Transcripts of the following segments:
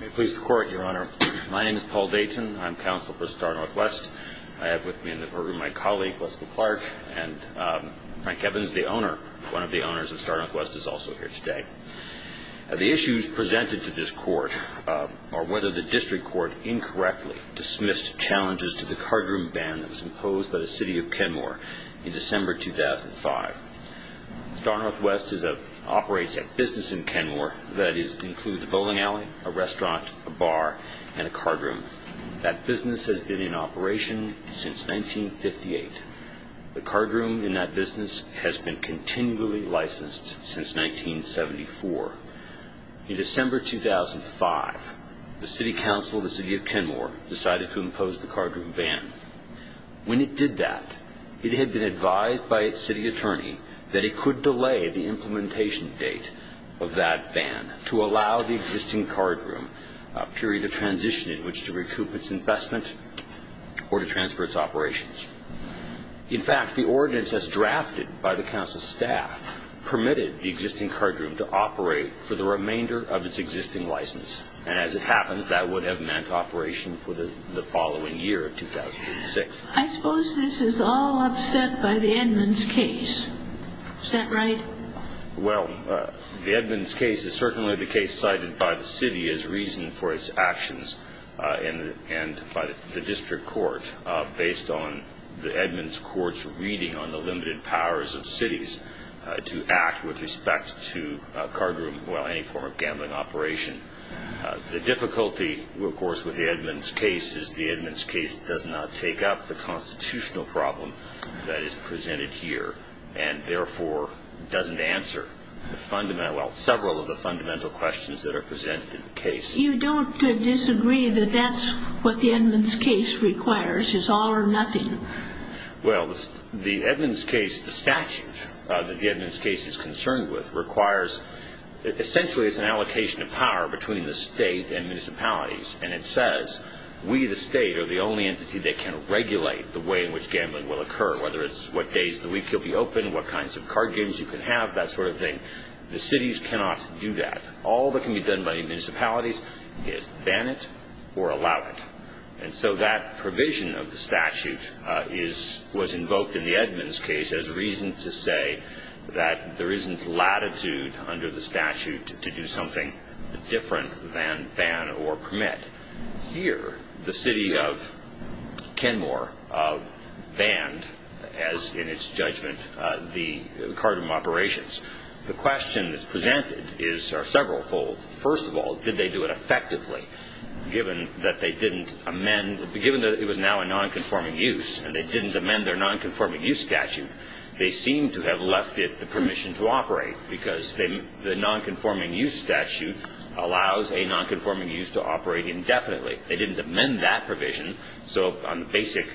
May it please the Court, Your Honor. My name is Paul Dayton. I'm counsel for Star Northwest. I have with me in the courtroom my colleague Leslie Clark and Frank Evans, the owner, one of the owners of Star Northwest, is also here today. The issues presented to this Court are whether the District Court incorrectly dismissed challenges to the cardroom ban that was imposed by the City of Kenmore in December 2005. Star Northwest operates a business in a restaurant, a bar, and a cardroom. That business has been in operation since 1958. The cardroom in that business has been continually licensed since 1974. In December 2005, the City Council of the City of Kenmore decided to impose the cardroom ban. When it did that, it had been advised by its City Attorney that it could delay the implementation date of that ban to allow the existing cardroom a period of transition in which to recoup its investment or to transfer its operations. In fact, the ordinance as drafted by the Council's staff permitted the existing cardroom to operate for the remainder of its existing license. And as it happens, that would have meant operation for the following year, 2006. I suppose this is all upset by the Edmonds case. Is that right? Well, the Edmonds case is certainly the case cited by the City as reason for its actions and by the District Court based on the Edmonds Court's reading on the limited powers of cities to act with respect to a cardroom, well, any form of gambling operation. The difficulty, of course, with the Edmonds case is the Edmonds case does not take up the constitutional problem that is presented here and therefore doesn't answer the fundamental, well, several of the fundamental questions that are presented in the case. You don't disagree that that's what the Edmonds case requires, is all or nothing? Well, the Edmonds case, the statute that the Edmonds case is concerned with requires, essentially, it's an allocation of power between the State and municipalities. And it says, we, the State, are the only entity that can regulate the way in which gambling will occur, whether it's what days of the week you'll be open, what kinds of card games you can have, that sort of thing. The cities cannot do that. All that can be done by municipalities is ban it or allow it. And so that provision of the statute was invoked in the Edmonds case as reason to say that there isn't latitude under the statute to do something different than ban or permit. Here, the city of Kenmore banned, as in its judgment, the card game operations. The question that's presented is several fold. First of all, did they do it effectively, given that they didn't amend, given that it was now a nonconforming use and they didn't amend their nonconforming use statute, they seem to have left it the permission to operate, because the nonconforming use statute allows a nonconforming use to operate indefinitely. They didn't amend that provision. So on the basic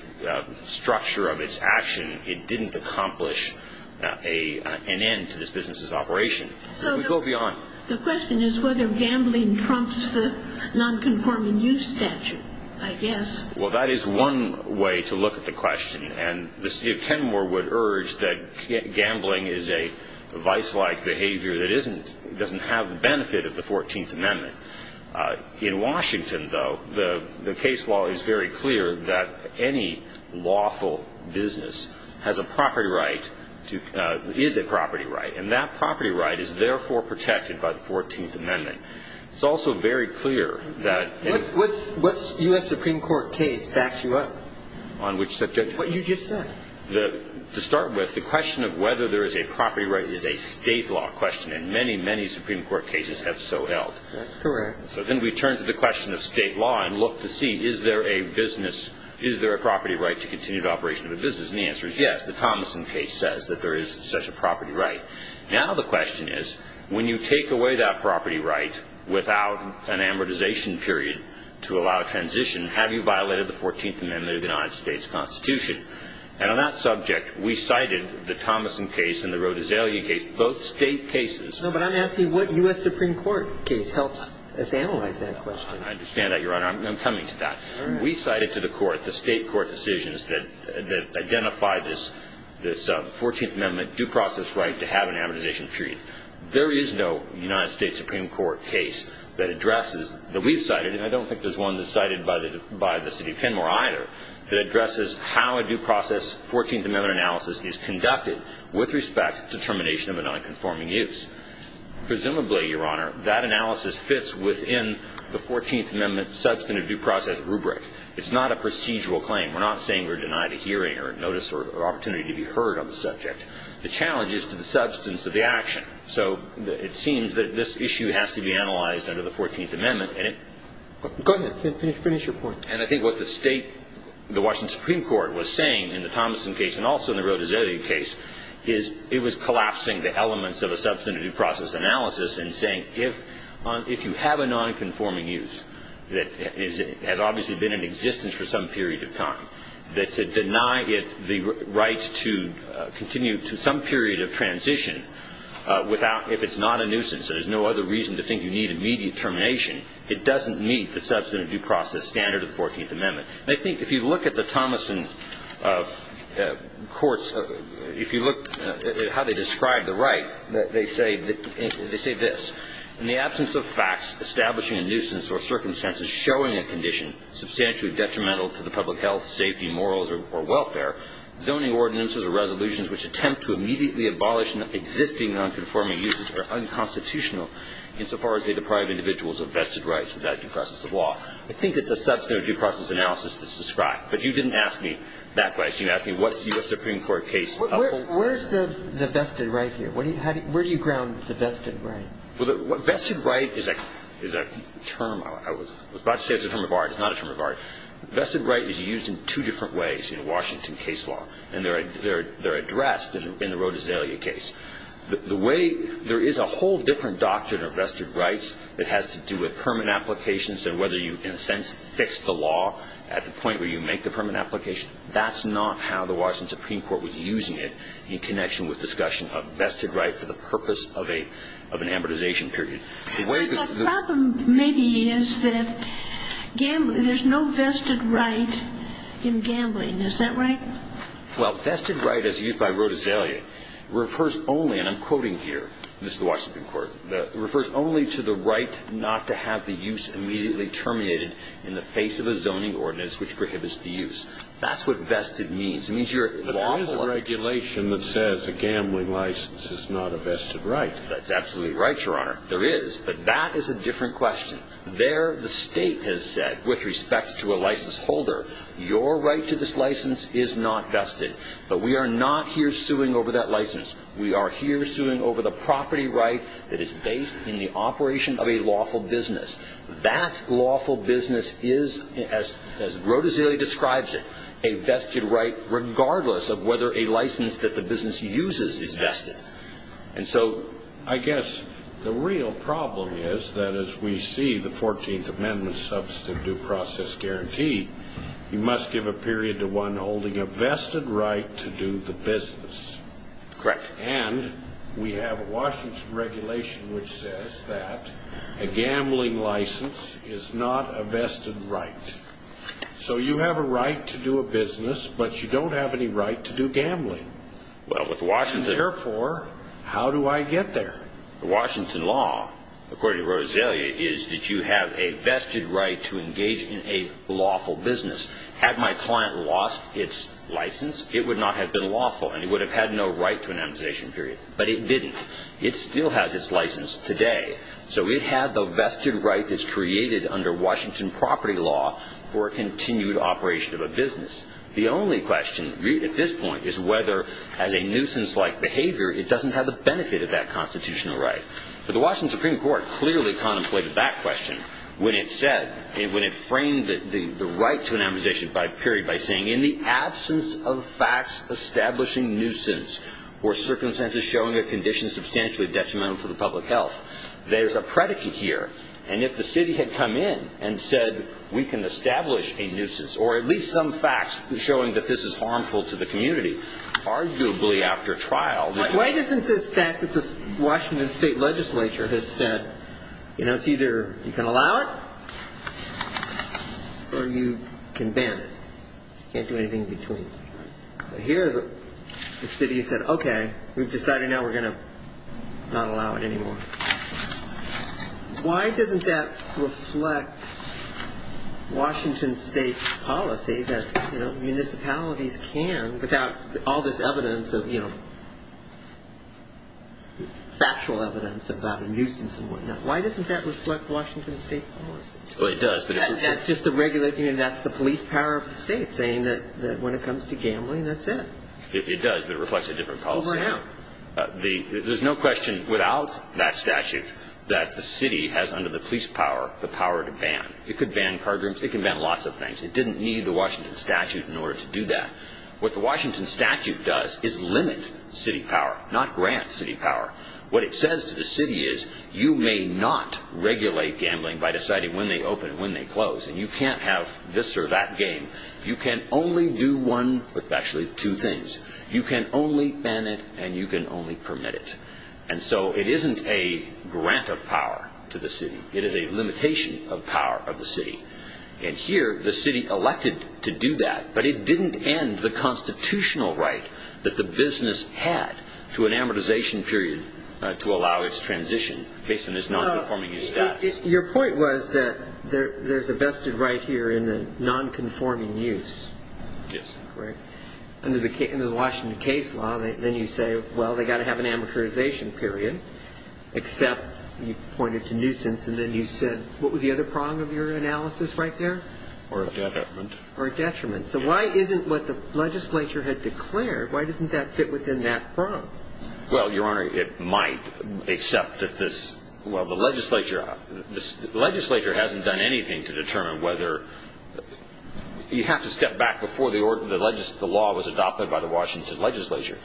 structure of its action, it didn't accomplish an end to this business's operation. So we go beyond. The question is whether gambling trumps the nonconforming use statute, I guess. Well, that is one way to look at the question. And the city of Kenmore would urge that gambling is a vice-like behavior that doesn't have the benefit of the 14th Amendment. In Washington, though, the case law is very clear that any lawful business has a property right, is a property right, and that property right is therefore protected by the 14th Amendment. It's also very clear that — What U.S. Supreme Court case backs you up? On which subject? What you just said. To start with, the question of whether there is a property right is a state law question, and many, many Supreme Court cases have so held. That's correct. So then we turn to the question of state law and look to see, is there a business — is there a property right to continued operation of a business? And the answer is yes. The Thomason case says that there is such a property right. Now the question is, when you take away that property right without an amortization period to allow a transition, have you violated the 14th Amendment of the United States Constitution? And on that subject, we cited the Thomason case and the Rodesalia case, both state cases. No, but I'm asking what U.S. Supreme Court case helps us analyze that question. I understand that, Your Honor. I'm coming to that. We cited to the Court the state court decisions that identify this 14th Amendment due process right to have an amortization period. There is no United States Supreme Court case that addresses — that we've cited, and I don't think there's one that's cited by the City of Kenmore either, that addresses how a due process 14th Amendment analysis is conducted with respect to termination of a nonconforming use. Presumably, Your Honor, that analysis fits within the 14th Amendment substantive due process rubric. It's not a procedural claim. We're not saying we're denied a hearing or notice or opportunity to be heard on the subject. The challenge is to the substance of the action. So it seems that this issue has to be analyzed under the 14th Amendment. And it — Go ahead. Finish your point. And I think what the state — the Washington Supreme Court was saying in the Thomason case and also in the Rodizelli case is it was collapsing the elements of a substantive due process analysis and saying if — if you have a nonconforming use that is — has obviously been in existence for some period of time, that to deny it the right to continue to some period of transition without — if it's not a nuisance, there's no other reason to think you need immediate termination, it doesn't meet the substantive due process standard of the 14th Amendment. And I think if you look at the Thomason courts, if you look at how they describe the right, they say — they say this. In the absence of facts establishing a nuisance or circumstances showing a condition substantially detrimental to the public health, safety, morals, or welfare, zoning ordinances or resolutions which attempt to immediately abolish an existing nonconforming use are unconstitutional insofar as they deprive individuals of vested rights without due process of law. I think it's a substantive due process analysis that's described. But you didn't ask me that question. You asked me what's the U.S. Supreme Court case upholds. Where's the vested right here? Where do you ground the vested right? Well, the vested right is a term — I was about to say it's a term of art. It's not a term of art. Vested right is used in two different ways in Washington case law. And they're addressed in the Rodizelli case. The way — there is a whole different doctrine of vested rights that has to do with permit applications and whether you, in a sense, fix the law at the point where you make the permit application. That's not how the Washington Supreme Court was using it in connection with discussion of vested right for the purpose of a — of an amortization period. The way — But the problem maybe is that there's no vested right in gambling. Is that right? Well, vested right, as used by Rodizelli, refers only — and I'm quoting here. This is the Washington court. It refers only to the right not to have the use immediately terminated in the face of a zoning ordinance which prohibits the use. That's what vested means. It means you're — But there is a regulation that says a gambling license is not a vested right. That's absolutely right, Your Honor. There is. But that is a different question. There, the state has said, with respect to a license holder, your right to this license is not vested. But we are not here suing over that license. We are here suing over the property right that is based in the operation of a lawful business. That lawful business is, as Rodizelli describes it, a vested right regardless of whether a license that the business uses is vested. And so I guess the real problem is that as we see the 14th Amendment substantive due a vested right to do the business. Correct. And we have a Washington regulation which says that a gambling license is not a vested right. So you have a right to do a business, but you don't have any right to do gambling. Well, with Washington — Therefore, how do I get there? The Washington law, according to Rodizelli, is that you have a vested right to engage in a lawful business. Had my client lost its license, it would not have been lawful, and it would have had no right to an amputation period. But it didn't. It still has its license today. So it had the vested right that's created under Washington property law for a continued operation of a business. The only question at this point is whether, as a nuisance-like behavior, it doesn't have the benefit of that constitutional right. But the Washington Supreme Court clearly contemplated that question when it said — when it period by saying, in the absence of facts establishing nuisance or circumstances showing a condition substantially detrimental to the public health, there's a predicate here. And if the city had come in and said, we can establish a nuisance, or at least some facts showing that this is harmful to the community, arguably after trial — Why doesn't this fact that the Washington state legislature has said, you know, it's can ban it. Can't do anything in between. So here the city said, okay, we've decided now we're going to not allow it anymore. Why doesn't that reflect Washington state policy that, you know, municipalities can without all this evidence of, you know, factual evidence about a nuisance and whatnot? Why doesn't that reflect Washington state policy? Well, it does, but — That's just a regular — you know, that's the police power of the state saying that when it comes to gambling, that's it. It does, but it reflects a different policy. Over how? There's no question without that statute that the city has, under the police power, the power to ban. It could ban cardrooms. It can ban lots of things. It didn't need the Washington statute in order to do that. What the Washington statute does is limit city power, not grant city power. What it says to the city is you may not regulate gambling by deciding when they open and when they close, and you can't have this or that game. You can only do one — actually, two things. You can only ban it, and you can only permit it. And so it isn't a grant of power to the city. It is a limitation of power of the city. And here the city elected to do that, but it didn't end the constitutional right that the business had to an amortization period to allow its transition based on its nonconforming use status. Your point was that there's a vested right here in the nonconforming use. Yes. Under the Washington case law, then you say, well, they've got to have an amortization period, except you pointed to nuisance, and then you said, what was the other prong of your analysis right there? Or a detriment. Or a detriment. So why isn't what the legislature had declared, why doesn't that fit within that prong? Well, Your Honor, it might, except that this — well, the legislature hasn't done anything to determine whether — you have to step back before the law was adopted by the Washington legislature.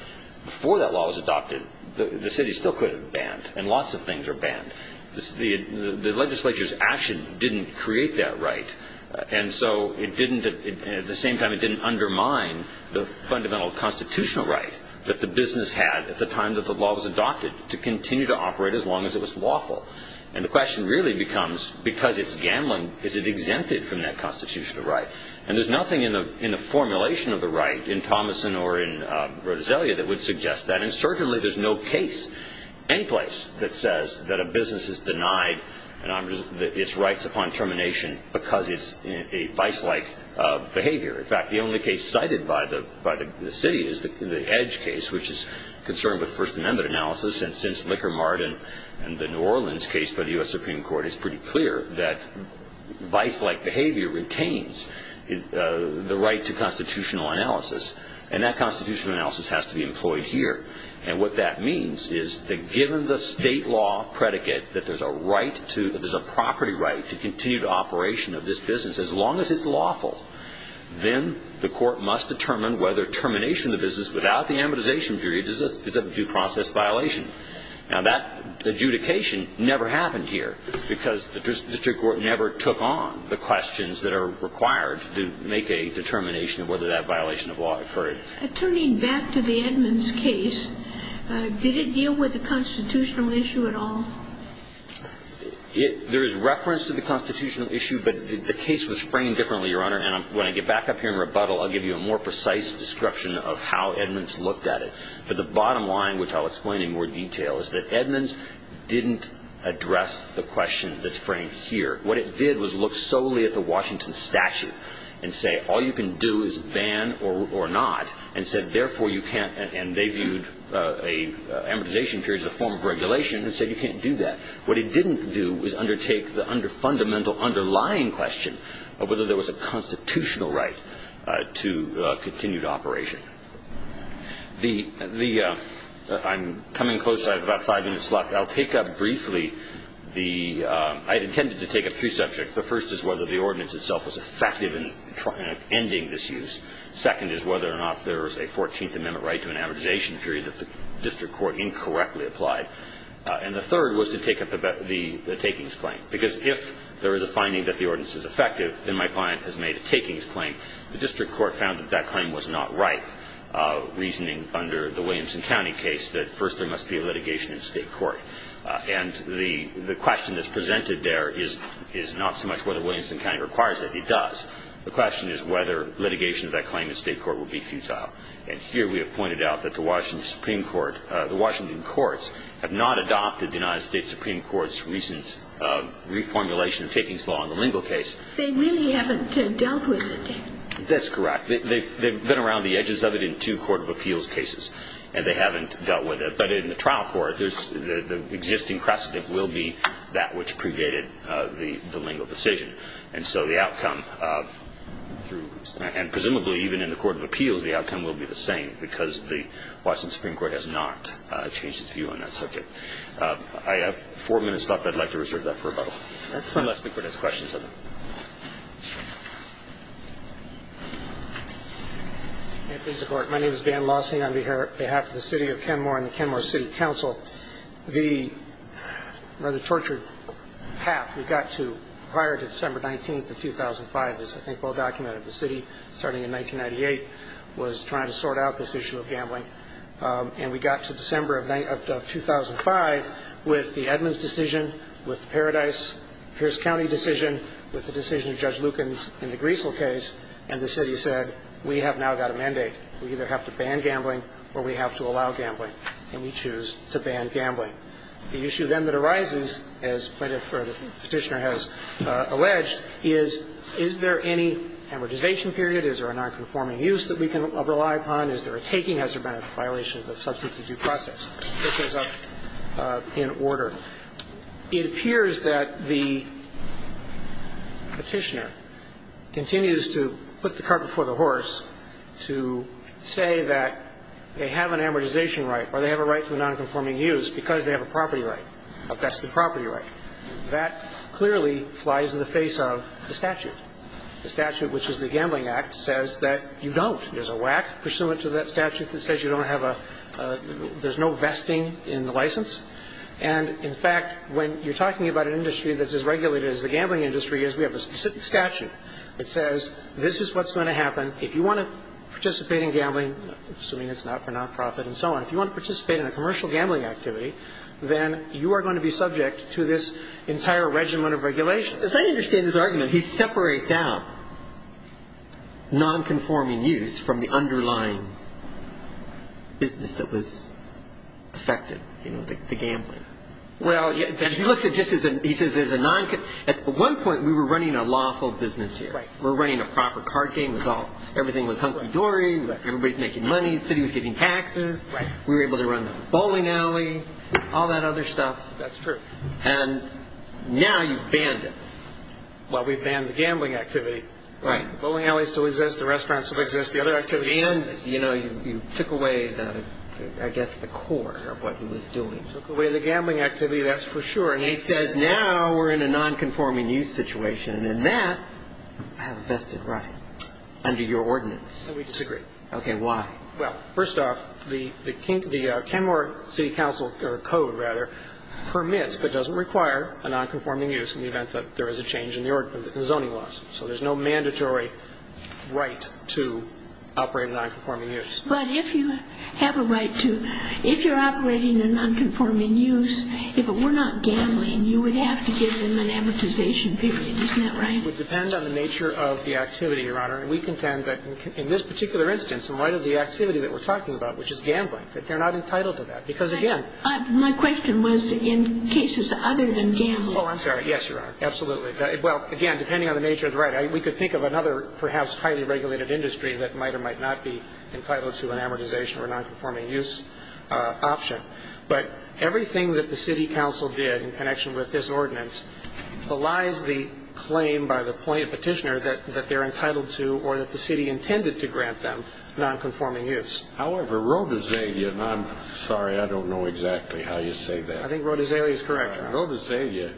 Before that law was adopted, the city still could have banned, and lots of things are banned. The legislature's action didn't create that right. And so it didn't — at the same time, it didn't undermine the fundamental constitutional right that the business had at the time that the law was adopted to continue to operate as long as it was lawful. And the question really becomes, because it's gambling, is it exempted from that constitutional right? And there's nothing in the formulation of the right in Thomason or in Rodizella that would suggest that. And certainly there's no case anyplace that says that a business is denied its rights upon termination because it's a vice-like behavior. In fact, the only case cited by the city is the Edge case, which is concerned with First Amendment analysis. And since Lickermart and the New Orleans case by the U.S. Supreme Court, it's pretty clear that vice-like behavior retains the right to constitutional analysis. And that constitutional analysis has to be employed here. And what that means is that given the state law predicate that there's a right to — that there's a right to constitutional analysis, there's a right to constitutional And if the business is denied its rights upon termination, then the court has to determine whether termination of the business without the amortization period is a due process violation. Now, that adjudication never happened here because the district court never took on the questions that are required to make a determination of whether that violation of law occurred. Attorney, back to the Edmonds case, did it deal with the constitutional issue at all? There is reference to the constitutional issue, but the case was framed differently, Your Honor. And when I get back up here and rebuttal, I'll give you a more precise description of how Edmonds looked at it. But the bottom line, which I'll explain in more detail, is that Edmonds didn't address the question that's framed here. What it did was look solely at the Washington statute and say, all you can do is ban or not, and said, therefore, you can't. And they viewed an amortization period as a form of regulation and said, you can't do that. What it didn't do was undertake the fundamental underlying question of whether there was a constitutional right to continued operation. I'm coming close. I have about five minutes left. I'll pick up briefly. I intended to take up three subjects. The first is whether the ordinance itself was effective in ending this use. Second is whether or not there was a 14th Amendment right to an amortization period that the district court incorrectly applied. And the third was to take up the takings claim. Because if there is a finding that the ordinance is effective, then my client has made a takings claim. The district court found that that claim was not right, reasoning under the Williamson County case that, first, there must be a litigation in state court. And the question that's presented there is not so much whether Williamson County requires it. It does. The question is whether litigation of that claim in state court will be futile. And here we have pointed out that the Washington Supreme Court, the Washington courts, have not adopted the United States Supreme Court's recent reformulation of takings law in the Lingle case. They really haven't dealt with it. That's correct. They've been around the edges of it in two court of appeals cases. And they haven't dealt with it. But in the trial court, the existing precedent will be that which predated the Lingle decision. And so the outcome, and presumably, even in the court of appeals, the outcome will be the same because the Washington Supreme Court has not changed its view on that subject. I have four minutes left. I'd like to reserve that for rebuttal. That's fine. Unless the Court has questions of it. May it please the Court. My name is Dan Lawson. I'm here on behalf of the City of Kenmore and the Kenmore City Council. The rather tortured path we got to prior to December 19th of 2005 is, I think, well documented. The city, starting in 1998, was trying to sort out this issue of gambling. And we got to December of 2005 with the Edmonds decision, with the Paradise, Pierce County decision, with the decision of Judge Lukens in the Greasel case. And the city said, we have now got a mandate. We either have to ban gambling or we have to allow gambling. And we choose to ban gambling. The issue then that arises, as the Petitioner has alleged, is, is there any amortization period? Is there a nonconforming use that we can rely upon? Is there a taking? Has there been a violation of the substantive due process? This comes up in order. It appears that the Petitioner continues to put the cart before the horse to say that they have an amortization right or they have a right to a nonconforming use because they have a property right, a vested property right. That clearly flies in the face of the statute. The statute, which is the Gambling Act, says that you don't. There's a whack pursuant to that statute that says you don't have a – there's no vesting in the license. And, in fact, when you're talking about an industry that's as regulated as the gambling industry is, we have a specific statute that says, this is what's going to happen. If you want to participate in gambling, assuming it's not for nonprofit and so on, if you want to participate in a commercial gambling activity, then you are going to be subject to this entire regimen of regulation. If I understand his argument, he separates out nonconforming use from the underlying business that was affected, you know, the gambling. Well, he looks at it just as a – he says there's a – at one point, we were running a lawful business here. Right. We're running a proper card game. Everything was hunky-dory. Everybody's making money. The city was getting taxes. Right. We were able to run the bowling alley, all that other stuff. That's true. And now you've banned it. Well, we've banned the gambling activity. Right. Bowling alley still exists. The restaurant still exists. The other activities still exist. You know, you took away, I guess, the core of what he was doing. Took away the gambling activity, that's for sure. He says now we're in a nonconforming use situation. And in that, I have a vested right under your ordinance. No, we disagree. Okay. Why? Well, first off, the Kenmore City Council – or code, rather – permits but doesn't require a nonconforming use in the event that there is a change in the zoning laws. So there's no mandatory right to operate a nonconforming use. But if you have a right to – if you're operating a nonconforming use, if it were not gambling, you would have to give them an amortization period. Isn't that right? It would depend on the nature of the activity, Your Honor. And we contend that in this particular instance, in light of the activity that we're talking about, which is gambling, that they're not entitled to that. Because, again – My question was in cases other than gambling. Oh, I'm sorry. Yes, Your Honor. Absolutely. Well, again, depending on the nature of the right. We could think of another perhaps highly regulated industry that might or might not be entitled to an amortization or a nonconforming use option. But everything that the city council did in connection with this ordinance belies the claim by the petitioner that they're entitled to or that the city intended to grant them nonconforming use. However, Rhodazelia – and I'm sorry, I don't know exactly how you say that. I think Rhodazelia is correct, Your Honor. Rhodazelia,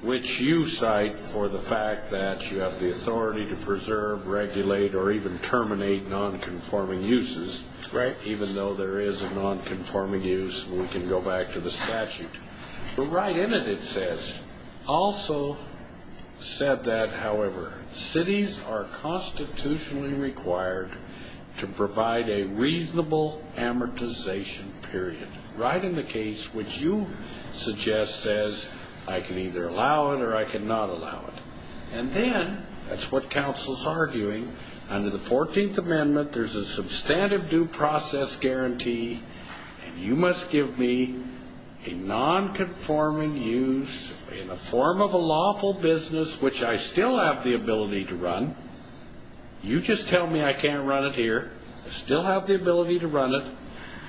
which you cite for the fact that you have the authority to preserve, regulate, or even terminate nonconforming uses. Right. Even though there is a nonconforming use, we can go back to the statute. But right in it, it says, also said that, however, cities are constitutionally required to provide a reasonable amortization period. Right in the case which you suggest says, I can either allow it or I cannot allow it. And then, that's what council's arguing, under the 14th Amendment, there's a substantive due process guarantee, and you must give me a nonconforming use in the form of a lawful business which I still have the ability to run. You just tell me I can't run it here. I still have the ability to run it.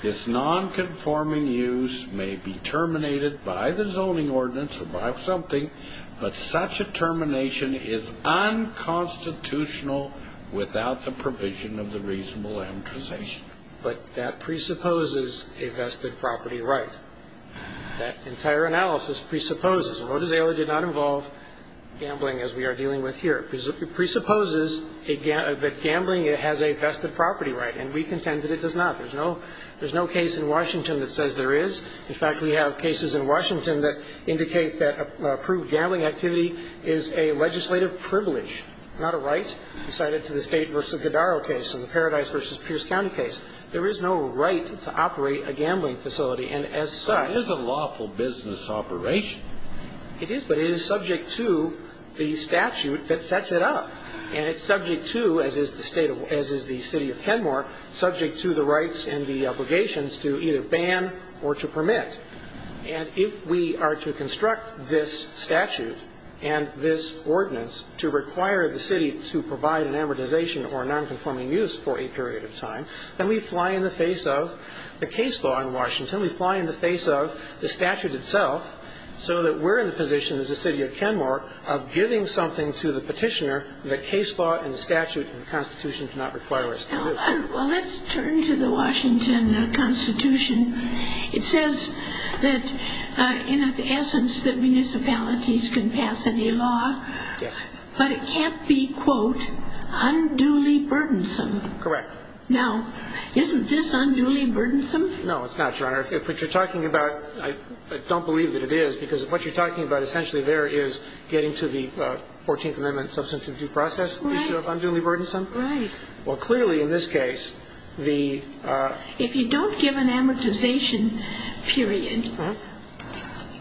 This nonconforming use may be terminated by the zoning ordinance or by something, but such a termination is unconstitutional without the provision of the reasonable amortization. But that presupposes a vested property right. That entire analysis presupposes, and Rhodazelia did not involve gambling as we are dealing with here, presupposes that gambling has a vested property right, and we contend that it does not. There's no case in Washington that says there is. In fact, we have cases in Washington that indicate that approved gambling activity is a legislative privilege, not a right. You cite it to the State v. Godaro case and the Paradise v. Pierce County case. There is no right to operate a gambling facility. And as such — But it is a lawful business operation. It is, but it is subject to the statute that sets it up. And it's subject to, as is the State of — as is the City of Kenmore, subject to the And if we are to construct this statute and this ordinance to require the City to provide an amortization or nonconforming use for a period of time, then we fly in the face of the case law in Washington. We fly in the face of the statute itself so that we're in the position as the City of Kenmore of giving something to the Petitioner that case law and the statute and the Constitution do not require us to do. Well, let's turn to the Washington Constitution. It says that in its essence that municipalities can pass any law. Yes. But it can't be, quote, unduly burdensome. Correct. Now, isn't this unduly burdensome? No, it's not, Your Honor. If what you're talking about — I don't believe that it is, because what you're talking about essentially there is getting to the Fourteenth Amendment substantive due process issue of unduly burdensome. Right. Well, clearly in this case, the — If you don't give an amortization period,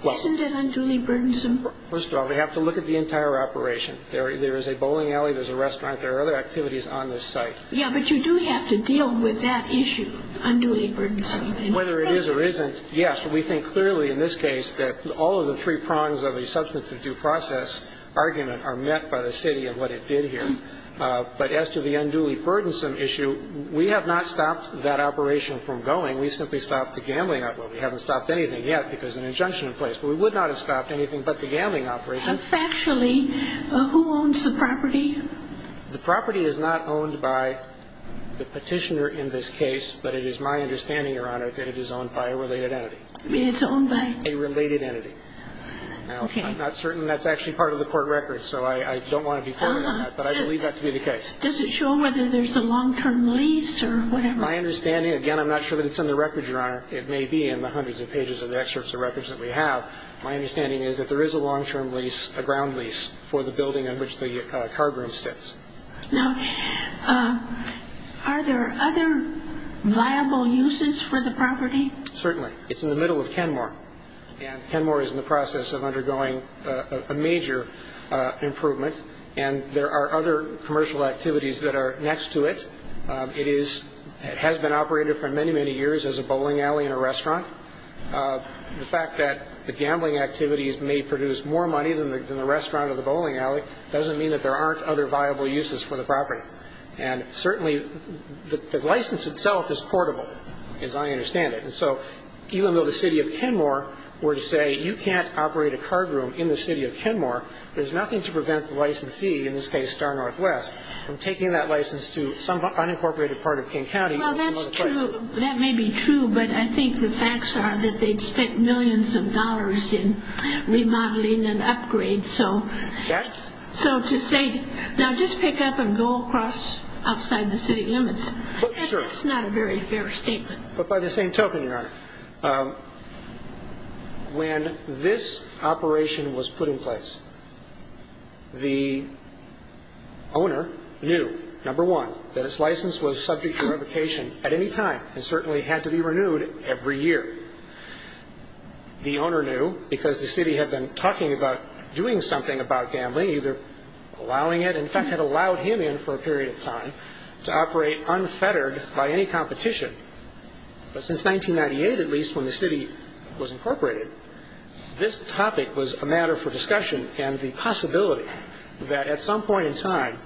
isn't it unduly burdensome? First of all, we have to look at the entire operation. There is a bowling alley, there's a restaurant, there are other activities on this site. Yeah, but you do have to deal with that issue, unduly burdensome. Whether it is or isn't, yes. But we think clearly in this case that all of the three prongs of a substantive due process argument are met by the City and what it did here. But as to the unduly burdensome issue, we have not stopped that operation from going. We simply stopped the gambling operation. We haven't stopped anything yet because of an injunction in place. But we would not have stopped anything but the gambling operation. Factually, who owns the property? The property is not owned by the petitioner in this case, but it is my understanding, Your Honor, that it is owned by a related entity. It's owned by? A related entity. Now, I'm not certain that's actually part of the court record, so I don't want to be that to be the case. Does it show whether there's a long-term lease or whatever? My understanding, again, I'm not sure that it's in the record, Your Honor. It may be in the hundreds of pages of the excerpts of records that we have. My understanding is that there is a long-term lease, a ground lease, for the building in which the card room sits. Now, are there other viable uses for the property? Certainly. It's in the middle of Kenmore. And Kenmore is in the process of undergoing a major improvement. And there are other commercial activities that are next to it. It has been operated for many, many years as a bowling alley and a restaurant. The fact that the gambling activities may produce more money than the restaurant or the bowling alley doesn't mean that there aren't other viable uses for the property. And certainly, the license itself is portable, as I understand it. And so even though the city of Kenmore were to say, you can't operate a card room in the city of Kenmore, there's nothing to prevent the licensee, in this case, Star Northwest, from taking that license to some unincorporated part of King County. Well, that's true. That may be true. But I think the facts are that they expect millions of dollars in remodeling and upgrades. So to say, now, just pick up and go across outside the city limits, that's not a very fair statement. But by the same token, Your Honor, when this operation was put in place, the owner knew, number one, that his license was subject to revocation at any time and certainly had to be renewed every year. The owner knew because the city had been talking about doing something about gambling, either allowing it, in fact, had allowed him in for a period of time to operate unfettered by any competition. But since 1998, at least, when the city was incorporated, this topic was a matter for discussion. And the possibility that at some point in time,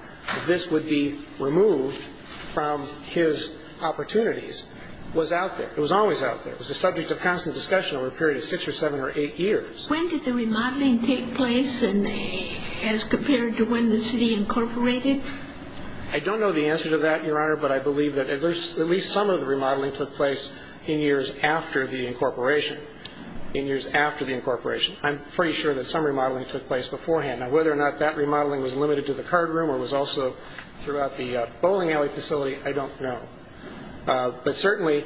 this would be removed from his opportunities was out there. It was always out there. It was a subject of constant discussion over a period of six or seven or eight years. When did the remodeling take place as compared to when the city incorporated? I don't know the answer to that, Your Honor. But I believe that at least some of the remodeling took place in years after the incorporation. In years after the incorporation. I'm pretty sure that some remodeling took place beforehand. Now, whether or not that remodeling was limited to the card room or was also throughout the bowling alley facility, I don't know. But certainly,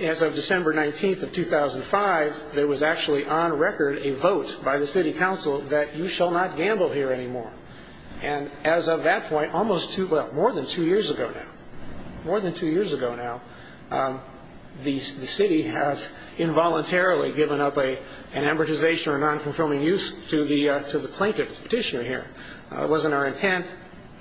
as of December 19th of 2005, there was actually, on record, a vote by the city council that you shall not gamble here anymore. And as of that point, almost two, well, more than two years ago now, more than two years ago now, the city has involuntarily given up an amortization or a non-conforming use to the plaintiff, the petitioner here. It wasn't our intent,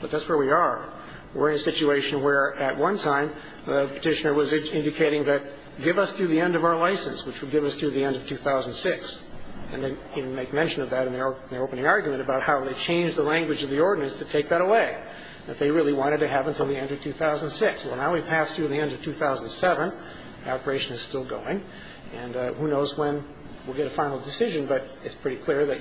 but that's where we are. We're in a situation where, at one time, the petitioner was indicating that give us through the end of our license, which would give us through the end of 2006. And they make mention of that in their opening argument about how they changed the language of the ordinance to take that away, that they really wanted to have until the end of 2006. Well, now we've passed through the end of 2007. The operation is still going. And who knows when we'll get a final decision, but it's pretty clear that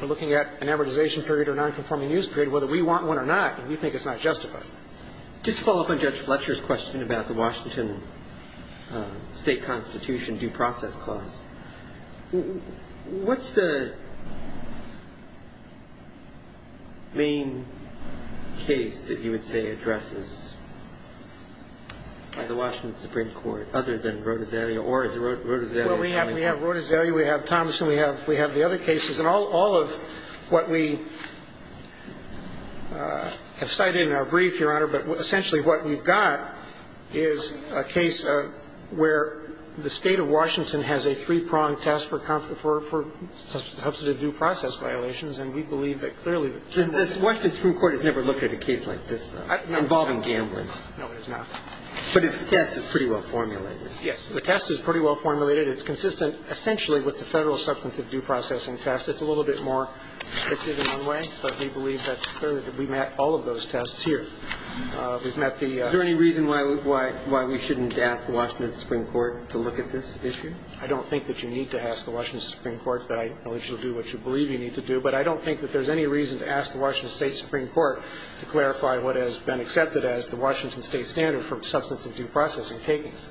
we're looking at an amortization period or non-conforming use period, whether we want one or not, and we think it's not justified. Just to follow up on Judge Fletcher's question about the Washington State Constitution due process clause, what's the main case that you would say addresses by the Washington Supreme Court, other than Rodezalia, or is it Rodezalia? Well, we have Rodezalia. We have Thomas, and we have the other cases. And all of what we have cited in our brief, Your Honor, but essentially what we've got is a case where the State of Washington has a three-pronged test for substantive due process violations, and we believe that clearly the State of Washington has never looked at a case like this involving gambling. No, it has not. But its test is pretty well-formulated. Yes. The test is pretty well-formulated. It's consistent, essentially, with the federal substantive due processing test. It's a little bit more stricted in one way, but we believe that clearly we've met all of those tests here. We've met the... Is there any reason why we shouldn't ask the Washington Supreme Court to look at this issue? I don't think that you need to ask the Washington Supreme Court, but I know that you'll do what you believe you need to do. But I don't think that there's any reason to ask the Washington State Supreme Court to clarify what has been accepted as the Washington State standard for substantive due processing takings.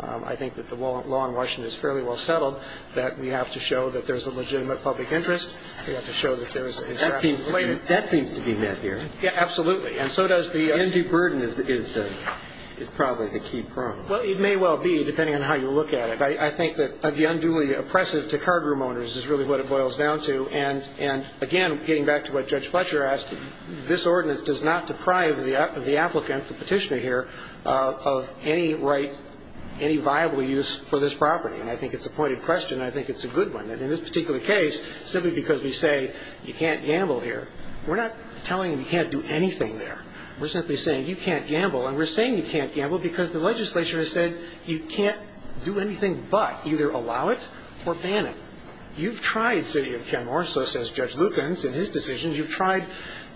I think that the law in Washington is fairly well-settled, that we have to show that there's a legitimate public interest. We have to show that there's... That seems to be met here. Yeah, absolutely. And so does the... And due burden is probably the key problem. Well, it may well be, depending on how you look at it. I think that the unduly oppressive to cardroom owners is really what it boils down to. And again, getting back to what Judge Fletcher asked, this ordinance does not deprive the applicant, the petitioner here, of any right, any viable use for this property. And I think it's a pointed question, and I think it's a good one. And in this particular case, simply because we say you can't gamble here, we're not telling them you can't do anything there. We're simply saying you can't gamble. And we're saying you can't gamble because the legislature has said you can't do anything but either allow it or ban it. You've tried, City of Kenmore, so says Judge Lukens in his decisions, you've tried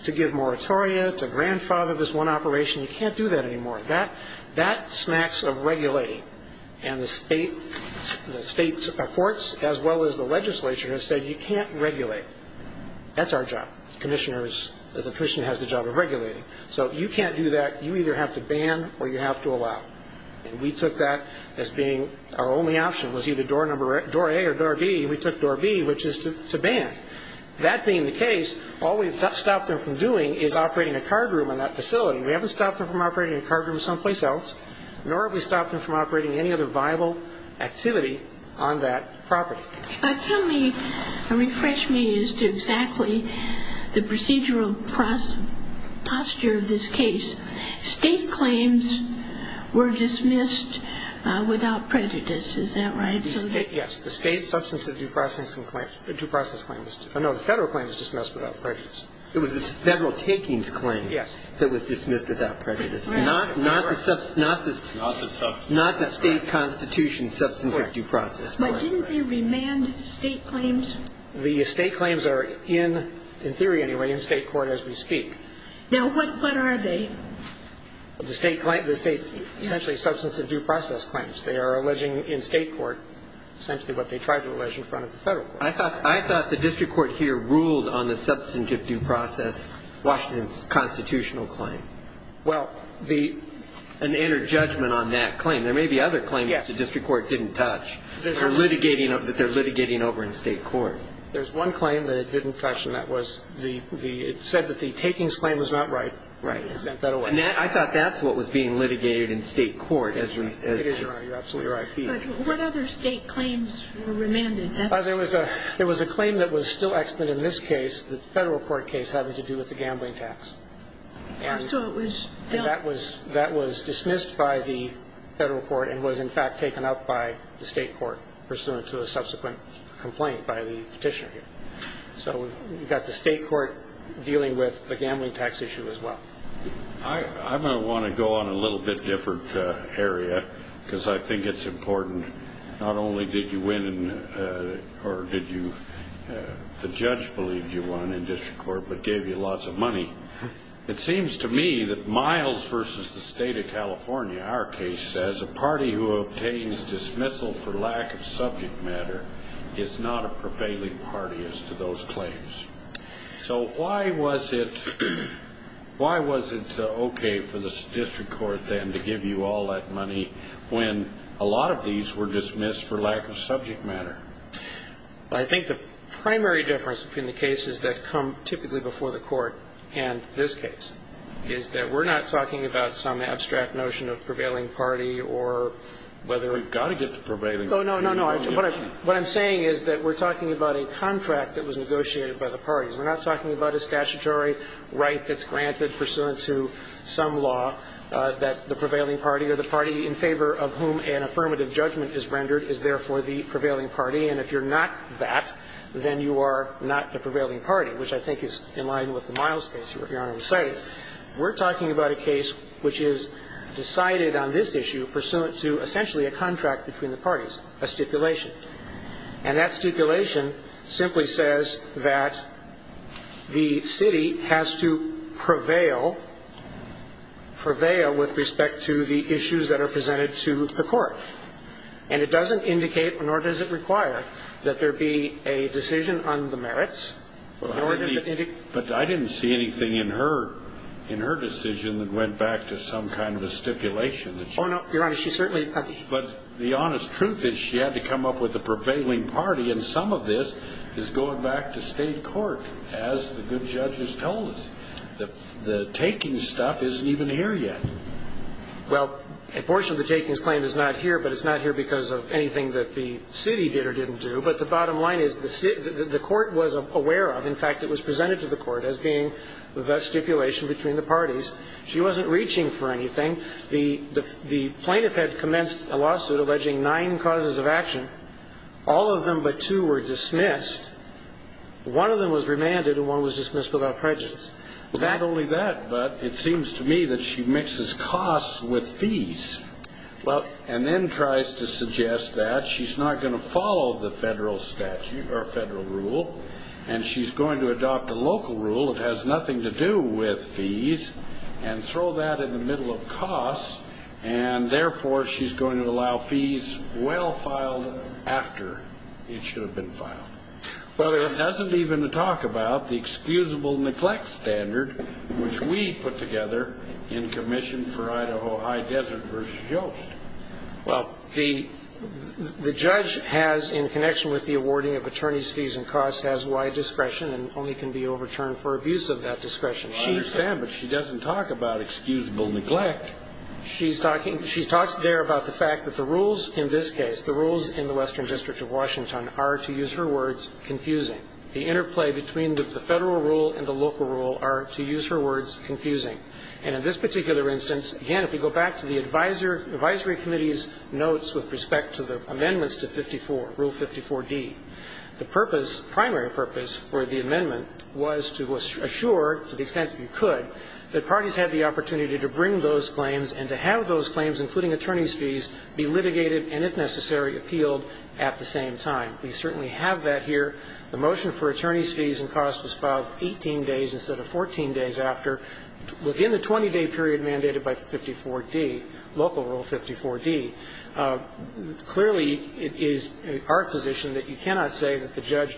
to give moratoria, to grandfather this one operation. You can't do that anymore. That smacks of regulating. And the state courts, as well as the legislature, have said you can't regulate. That's our job, commissioners, the petitioner has the job of regulating. So you can't do that. You either have to ban or you have to allow. And we took that as being our only option, was either door A or door B. We took door B, which is to ban. That being the case, all we've stopped them from doing is operating a card room in that facility. We haven't stopped them from operating a card room someplace else, nor have we stopped them from operating any other viable activity on that property. But tell me, refresh me as to exactly the procedural posture of this case. State claims were dismissed without prejudice, is that right? Yes. The state substance of due process claim was dismissed. No, the federal claim was dismissed without prejudice. It was the federal takings claim that was dismissed without prejudice. Not the state constitution substance of due process. But didn't they remand state claims? The state claims are, in theory anyway, in state court as we speak. Now, what are they? The state claim, the state essentially substance of due process claims. They are alleging in state court essentially what they tried to allege in front of the federal court. I thought the district court here ruled on the substance of due process, Washington's constitutional claim. Well, the. An inner judgment on that claim. There may be other claims the district court didn't touch that they're litigating over in state court. There's one claim that it didn't touch, and that was the, it said that the takings claim was not right. Right. I thought that's what was being litigated in state court. It is, Your Honor. You're absolutely right. But what other state claims were remanded? There was a claim that was still extant in this case, the federal court case having to do with the gambling tax. And so it was. That was dismissed by the federal court and was in fact taken up by the state court pursuant to a subsequent complaint by the Petitioner here. So we've got the state court dealing with the gambling tax issue as well. I'm going to want to go on a little bit different area because I think it's important. Not only did you win or did you, the judge believed you won in district court, but gave you lots of money. It seems to me that Miles versus the state of California, our case says a party who obtains dismissal for lack of subject matter is not a prevailing party as to those claims. So why was it, why was it okay for the district court then to give you all that money when a lot of these were dismissed for lack of subject matter? I think the primary difference between the cases that come typically before the court and this case is that we're not talking about some abstract notion of prevailing party or whether. We've got to get to prevailing. No, no, no, no. What I'm saying is that we're talking about a contract that was negotiated by the parties. We're not talking about a statutory right that's granted pursuant to some law that the prevailing party or the party in favor of whom an affirmative judgment is rendered is therefore the prevailing party. And if you're not that, then you are not the prevailing party, which I think is in line with the Miles case, Your Honor, I'm sorry. We're talking about a case which is decided on this issue pursuant to essentially a contract between the parties, a stipulation. And that stipulation simply says that the city has to prevail, prevail with respect to the issues that are presented to the court. And it doesn't indicate, nor does it require, that there be a decision on the merits. Nor does it indicate But I didn't see anything in her, in her decision that went back to some kind of a stipulation that she Oh, no, Your Honor, she certainly But the honest truth is she had to come up with a prevailing party. And some of this is going back to State court, as the good judges told us. The taking stuff isn't even here yet. Well, a portion of the takings claim is not here, but it's not here because of anything that the city did or didn't do. But the bottom line is the city, the court was aware of. In fact, it was presented to the court as being the stipulation between the parties. She wasn't reaching for anything. The plaintiff had commenced a lawsuit alleging nine causes of action. All of them but two were dismissed. One of them was remanded, and one was dismissed without prejudice. Not only that, but it seems to me that she mixes costs with fees and then tries to suggest that she's not going to follow the federal statute or federal rule, and she's going to adopt a local rule that has nothing to do with fees and throw that in the middle of costs, and therefore, she's going to allow fees well filed after it should have been filed. But it doesn't even talk about the excusable neglect standard, which we put together in commission for Idaho High Desert v. Jost. Well, the judge has, in connection with the awarding of attorney's fees and costs, has wide discretion and only can be overturned for abuse of that discretion. I understand, but she doesn't talk about excusable neglect. She's talking – she talks there about the fact that the rules in this case, the rules in the Western District of Washington, are, to use her words, confusing. The interplay between the federal rule and the local rule are, to use her words, confusing. And in this particular instance, again, if you go back to the advisory committee's notes with respect to the amendments to 54, Rule 54d, the purpose, primary purpose for the amendment was to assure, to the extent that you could, that parties had the opportunity to bring those claims and to have those claims, including attorney's fees, be litigated and, if necessary, appealed at the same time. We certainly have that here. The motion for attorney's fees and costs was filed 18 days instead of 14 days after, within the 20-day period mandated by 54d, local rule 54d. Clearly, it is our position that you cannot say that the judge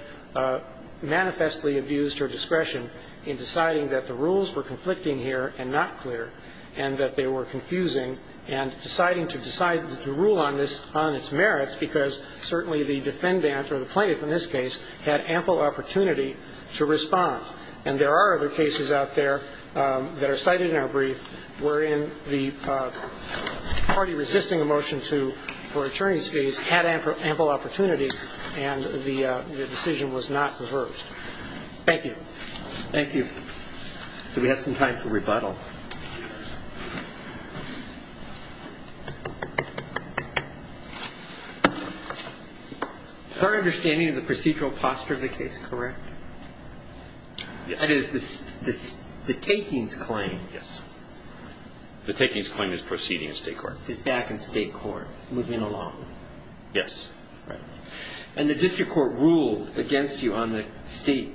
manifestly abused her discretion in deciding that the rules were conflicting here and not clear and that they were confusing and deciding to decide to rule on this – on its merits, because certainly the defendant or the plaintiff in this case had ample opportunity to respond. And there are other cases out there that are cited in our brief wherein the party resisting a motion to – for attorney's fees had ample opportunity and the decision was not reversed. Thank you. Thank you. So we have some time for rebuttal. Is our understanding of the procedural posture of the case correct? That is, the takings claim. Yes. The takings claim is proceeding in State court. It's back in State court, moving along. Yes. Right. And the district court ruled against you on the State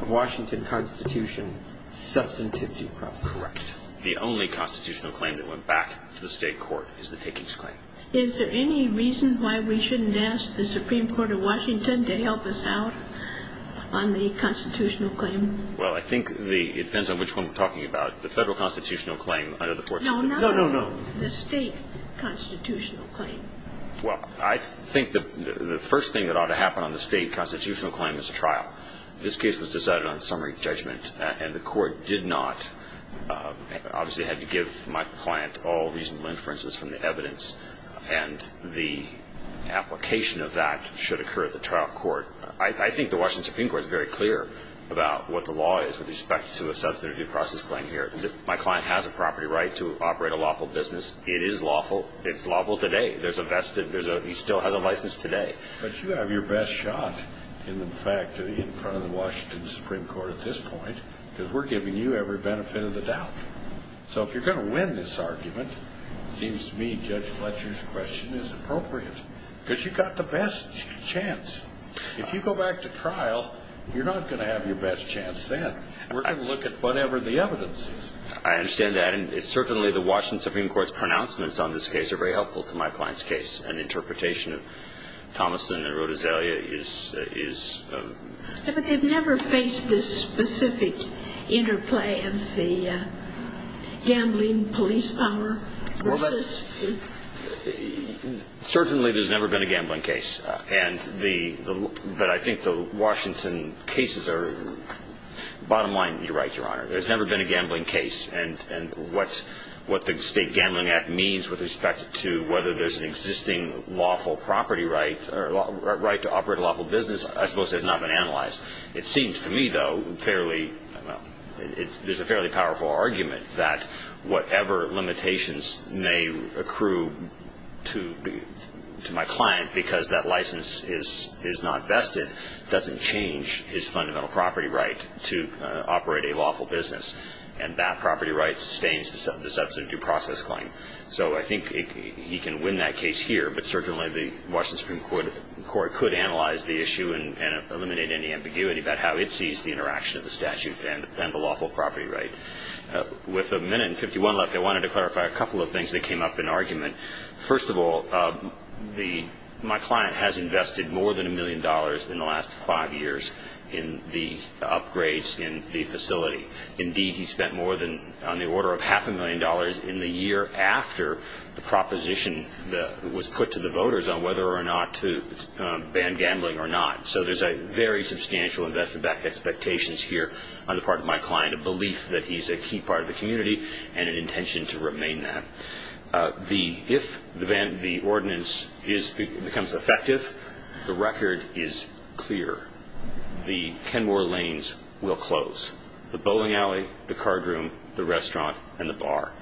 of Washington Constitution substantive due process. Correct. The only constitutional claim that went back to the State court is the takings claim. Is there any reason why we shouldn't ask the Supreme Court of Washington to help us out on the constitutional claim? Well, I think the – it depends on which one we're talking about. The Federal constitutional claim under the 14th. No, no, no. The State constitutional claim. Well, I think the first thing that ought to happen on the State constitutional claim is a trial. This case was decided on summary judgment, and the court did not – obviously had to give my client all reasonable inferences from the evidence, and the application of that should occur at the trial court. I think the Washington Supreme Court is very clear about what the law is with respect to a substantive due process claim here. My client has a property right to operate a lawful business. It is lawful. It's lawful today. There's a – he still has a license today. But you have your best shot in the fact that in front of the Washington Supreme Court at this point, because we're giving you every benefit of the doubt. So if you're going to win this argument, it seems to me Judge Fletcher's question is appropriate, because you've got the best chance. If you go back to trial, you're not going to have your best chance then. We're going to look at whatever the evidence is. I understand that. And certainly the Washington Supreme Court's pronouncements on this case are very helpful to my client's case. An interpretation of Thomason and Rodizalia is – But they've never faced this specific interplay of the gambling police power versus – Well, but certainly there's never been a gambling case. And the – but I think the Washington cases are – bottom line, you're right, Your Honor. There's never been a gambling case. And what the State Gambling Act means with respect to whether there's an existing lawful property right or right to operate a lawful business I suppose has not been analyzed. It seems to me, though, fairly – there's a fairly powerful argument that whatever limitations may accrue to my client because that license is not vested doesn't change his fundamental property right to operate a lawful business. And that property right sustains the substantive due process claim. So I think he can win that case here. But certainly the Washington Supreme Court could analyze the issue and eliminate any ambiguity about how it sees the interaction of the statute and the lawful property right. With a minute and 51 left, I wanted to clarify a couple of things that came up in argument. First of all, the – my client has invested more than a million dollars in the last five years in the upgrades in the facility. Indeed, he spent more than – on the order of half a million dollars in the year after the proposition that was put to the voters on whether or not to ban gambling or not. So there's a very substantial investment back expectations here on the part of my client, a belief that he's a key part of the community, and an intention to remain that. If the ordinance becomes effective, the record is clear. The Kenmore lanes will close. The bowling alley, the card room, the restaurant, and the bar.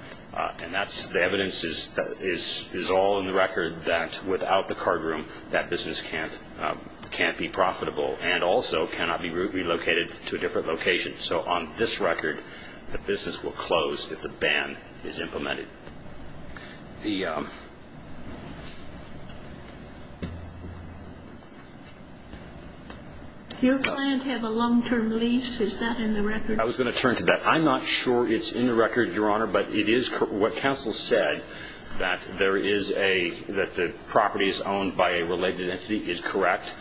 And that's – the evidence is all in the record that without the card room, that business can't be profitable and also cannot be relocated to a different location. So on this record, the business will close if the ban is implemented. The – Do your client have a long-term lease? Is that in the record? I was going to turn to that. I'm not sure it's in the record, Your Honor, but it is – what counsel said, that there is a – that the property is owned by a related entity is correct.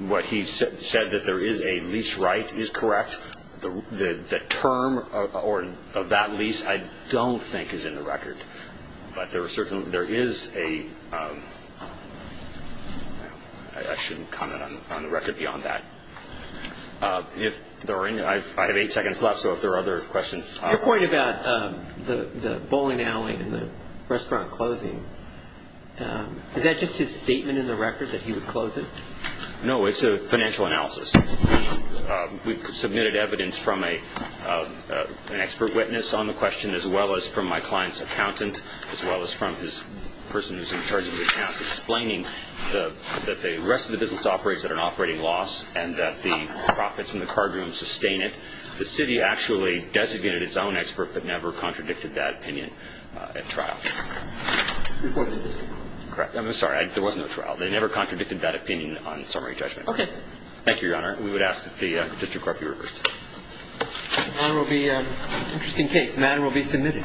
What he said that there is a lease right is correct. The term of that lease I don't think is in the record, but there are certain – there is a – I shouldn't comment on the record beyond that. If there are any – I have eight seconds left, so if there are other questions – Your point about the bowling alley and the restaurant closing, is that just his statement in the record that he would close it? No, it's a financial analysis. We've submitted evidence from an expert witness on the question, as well as from my client's accountant, as well as from his person who's in charge of the account, explaining that the rest of the business operates at an operating loss and that the profits from the card room sustain it. The city actually designated its own expert, but never contradicted that opinion at trial. Your point is – Correct. I'm sorry. There was no trial. They never contradicted that opinion on summary judgment. Okay. Thank you, Your Honor. We would ask that the district court be reversed. The matter will be – interesting case. The matter will be submitted.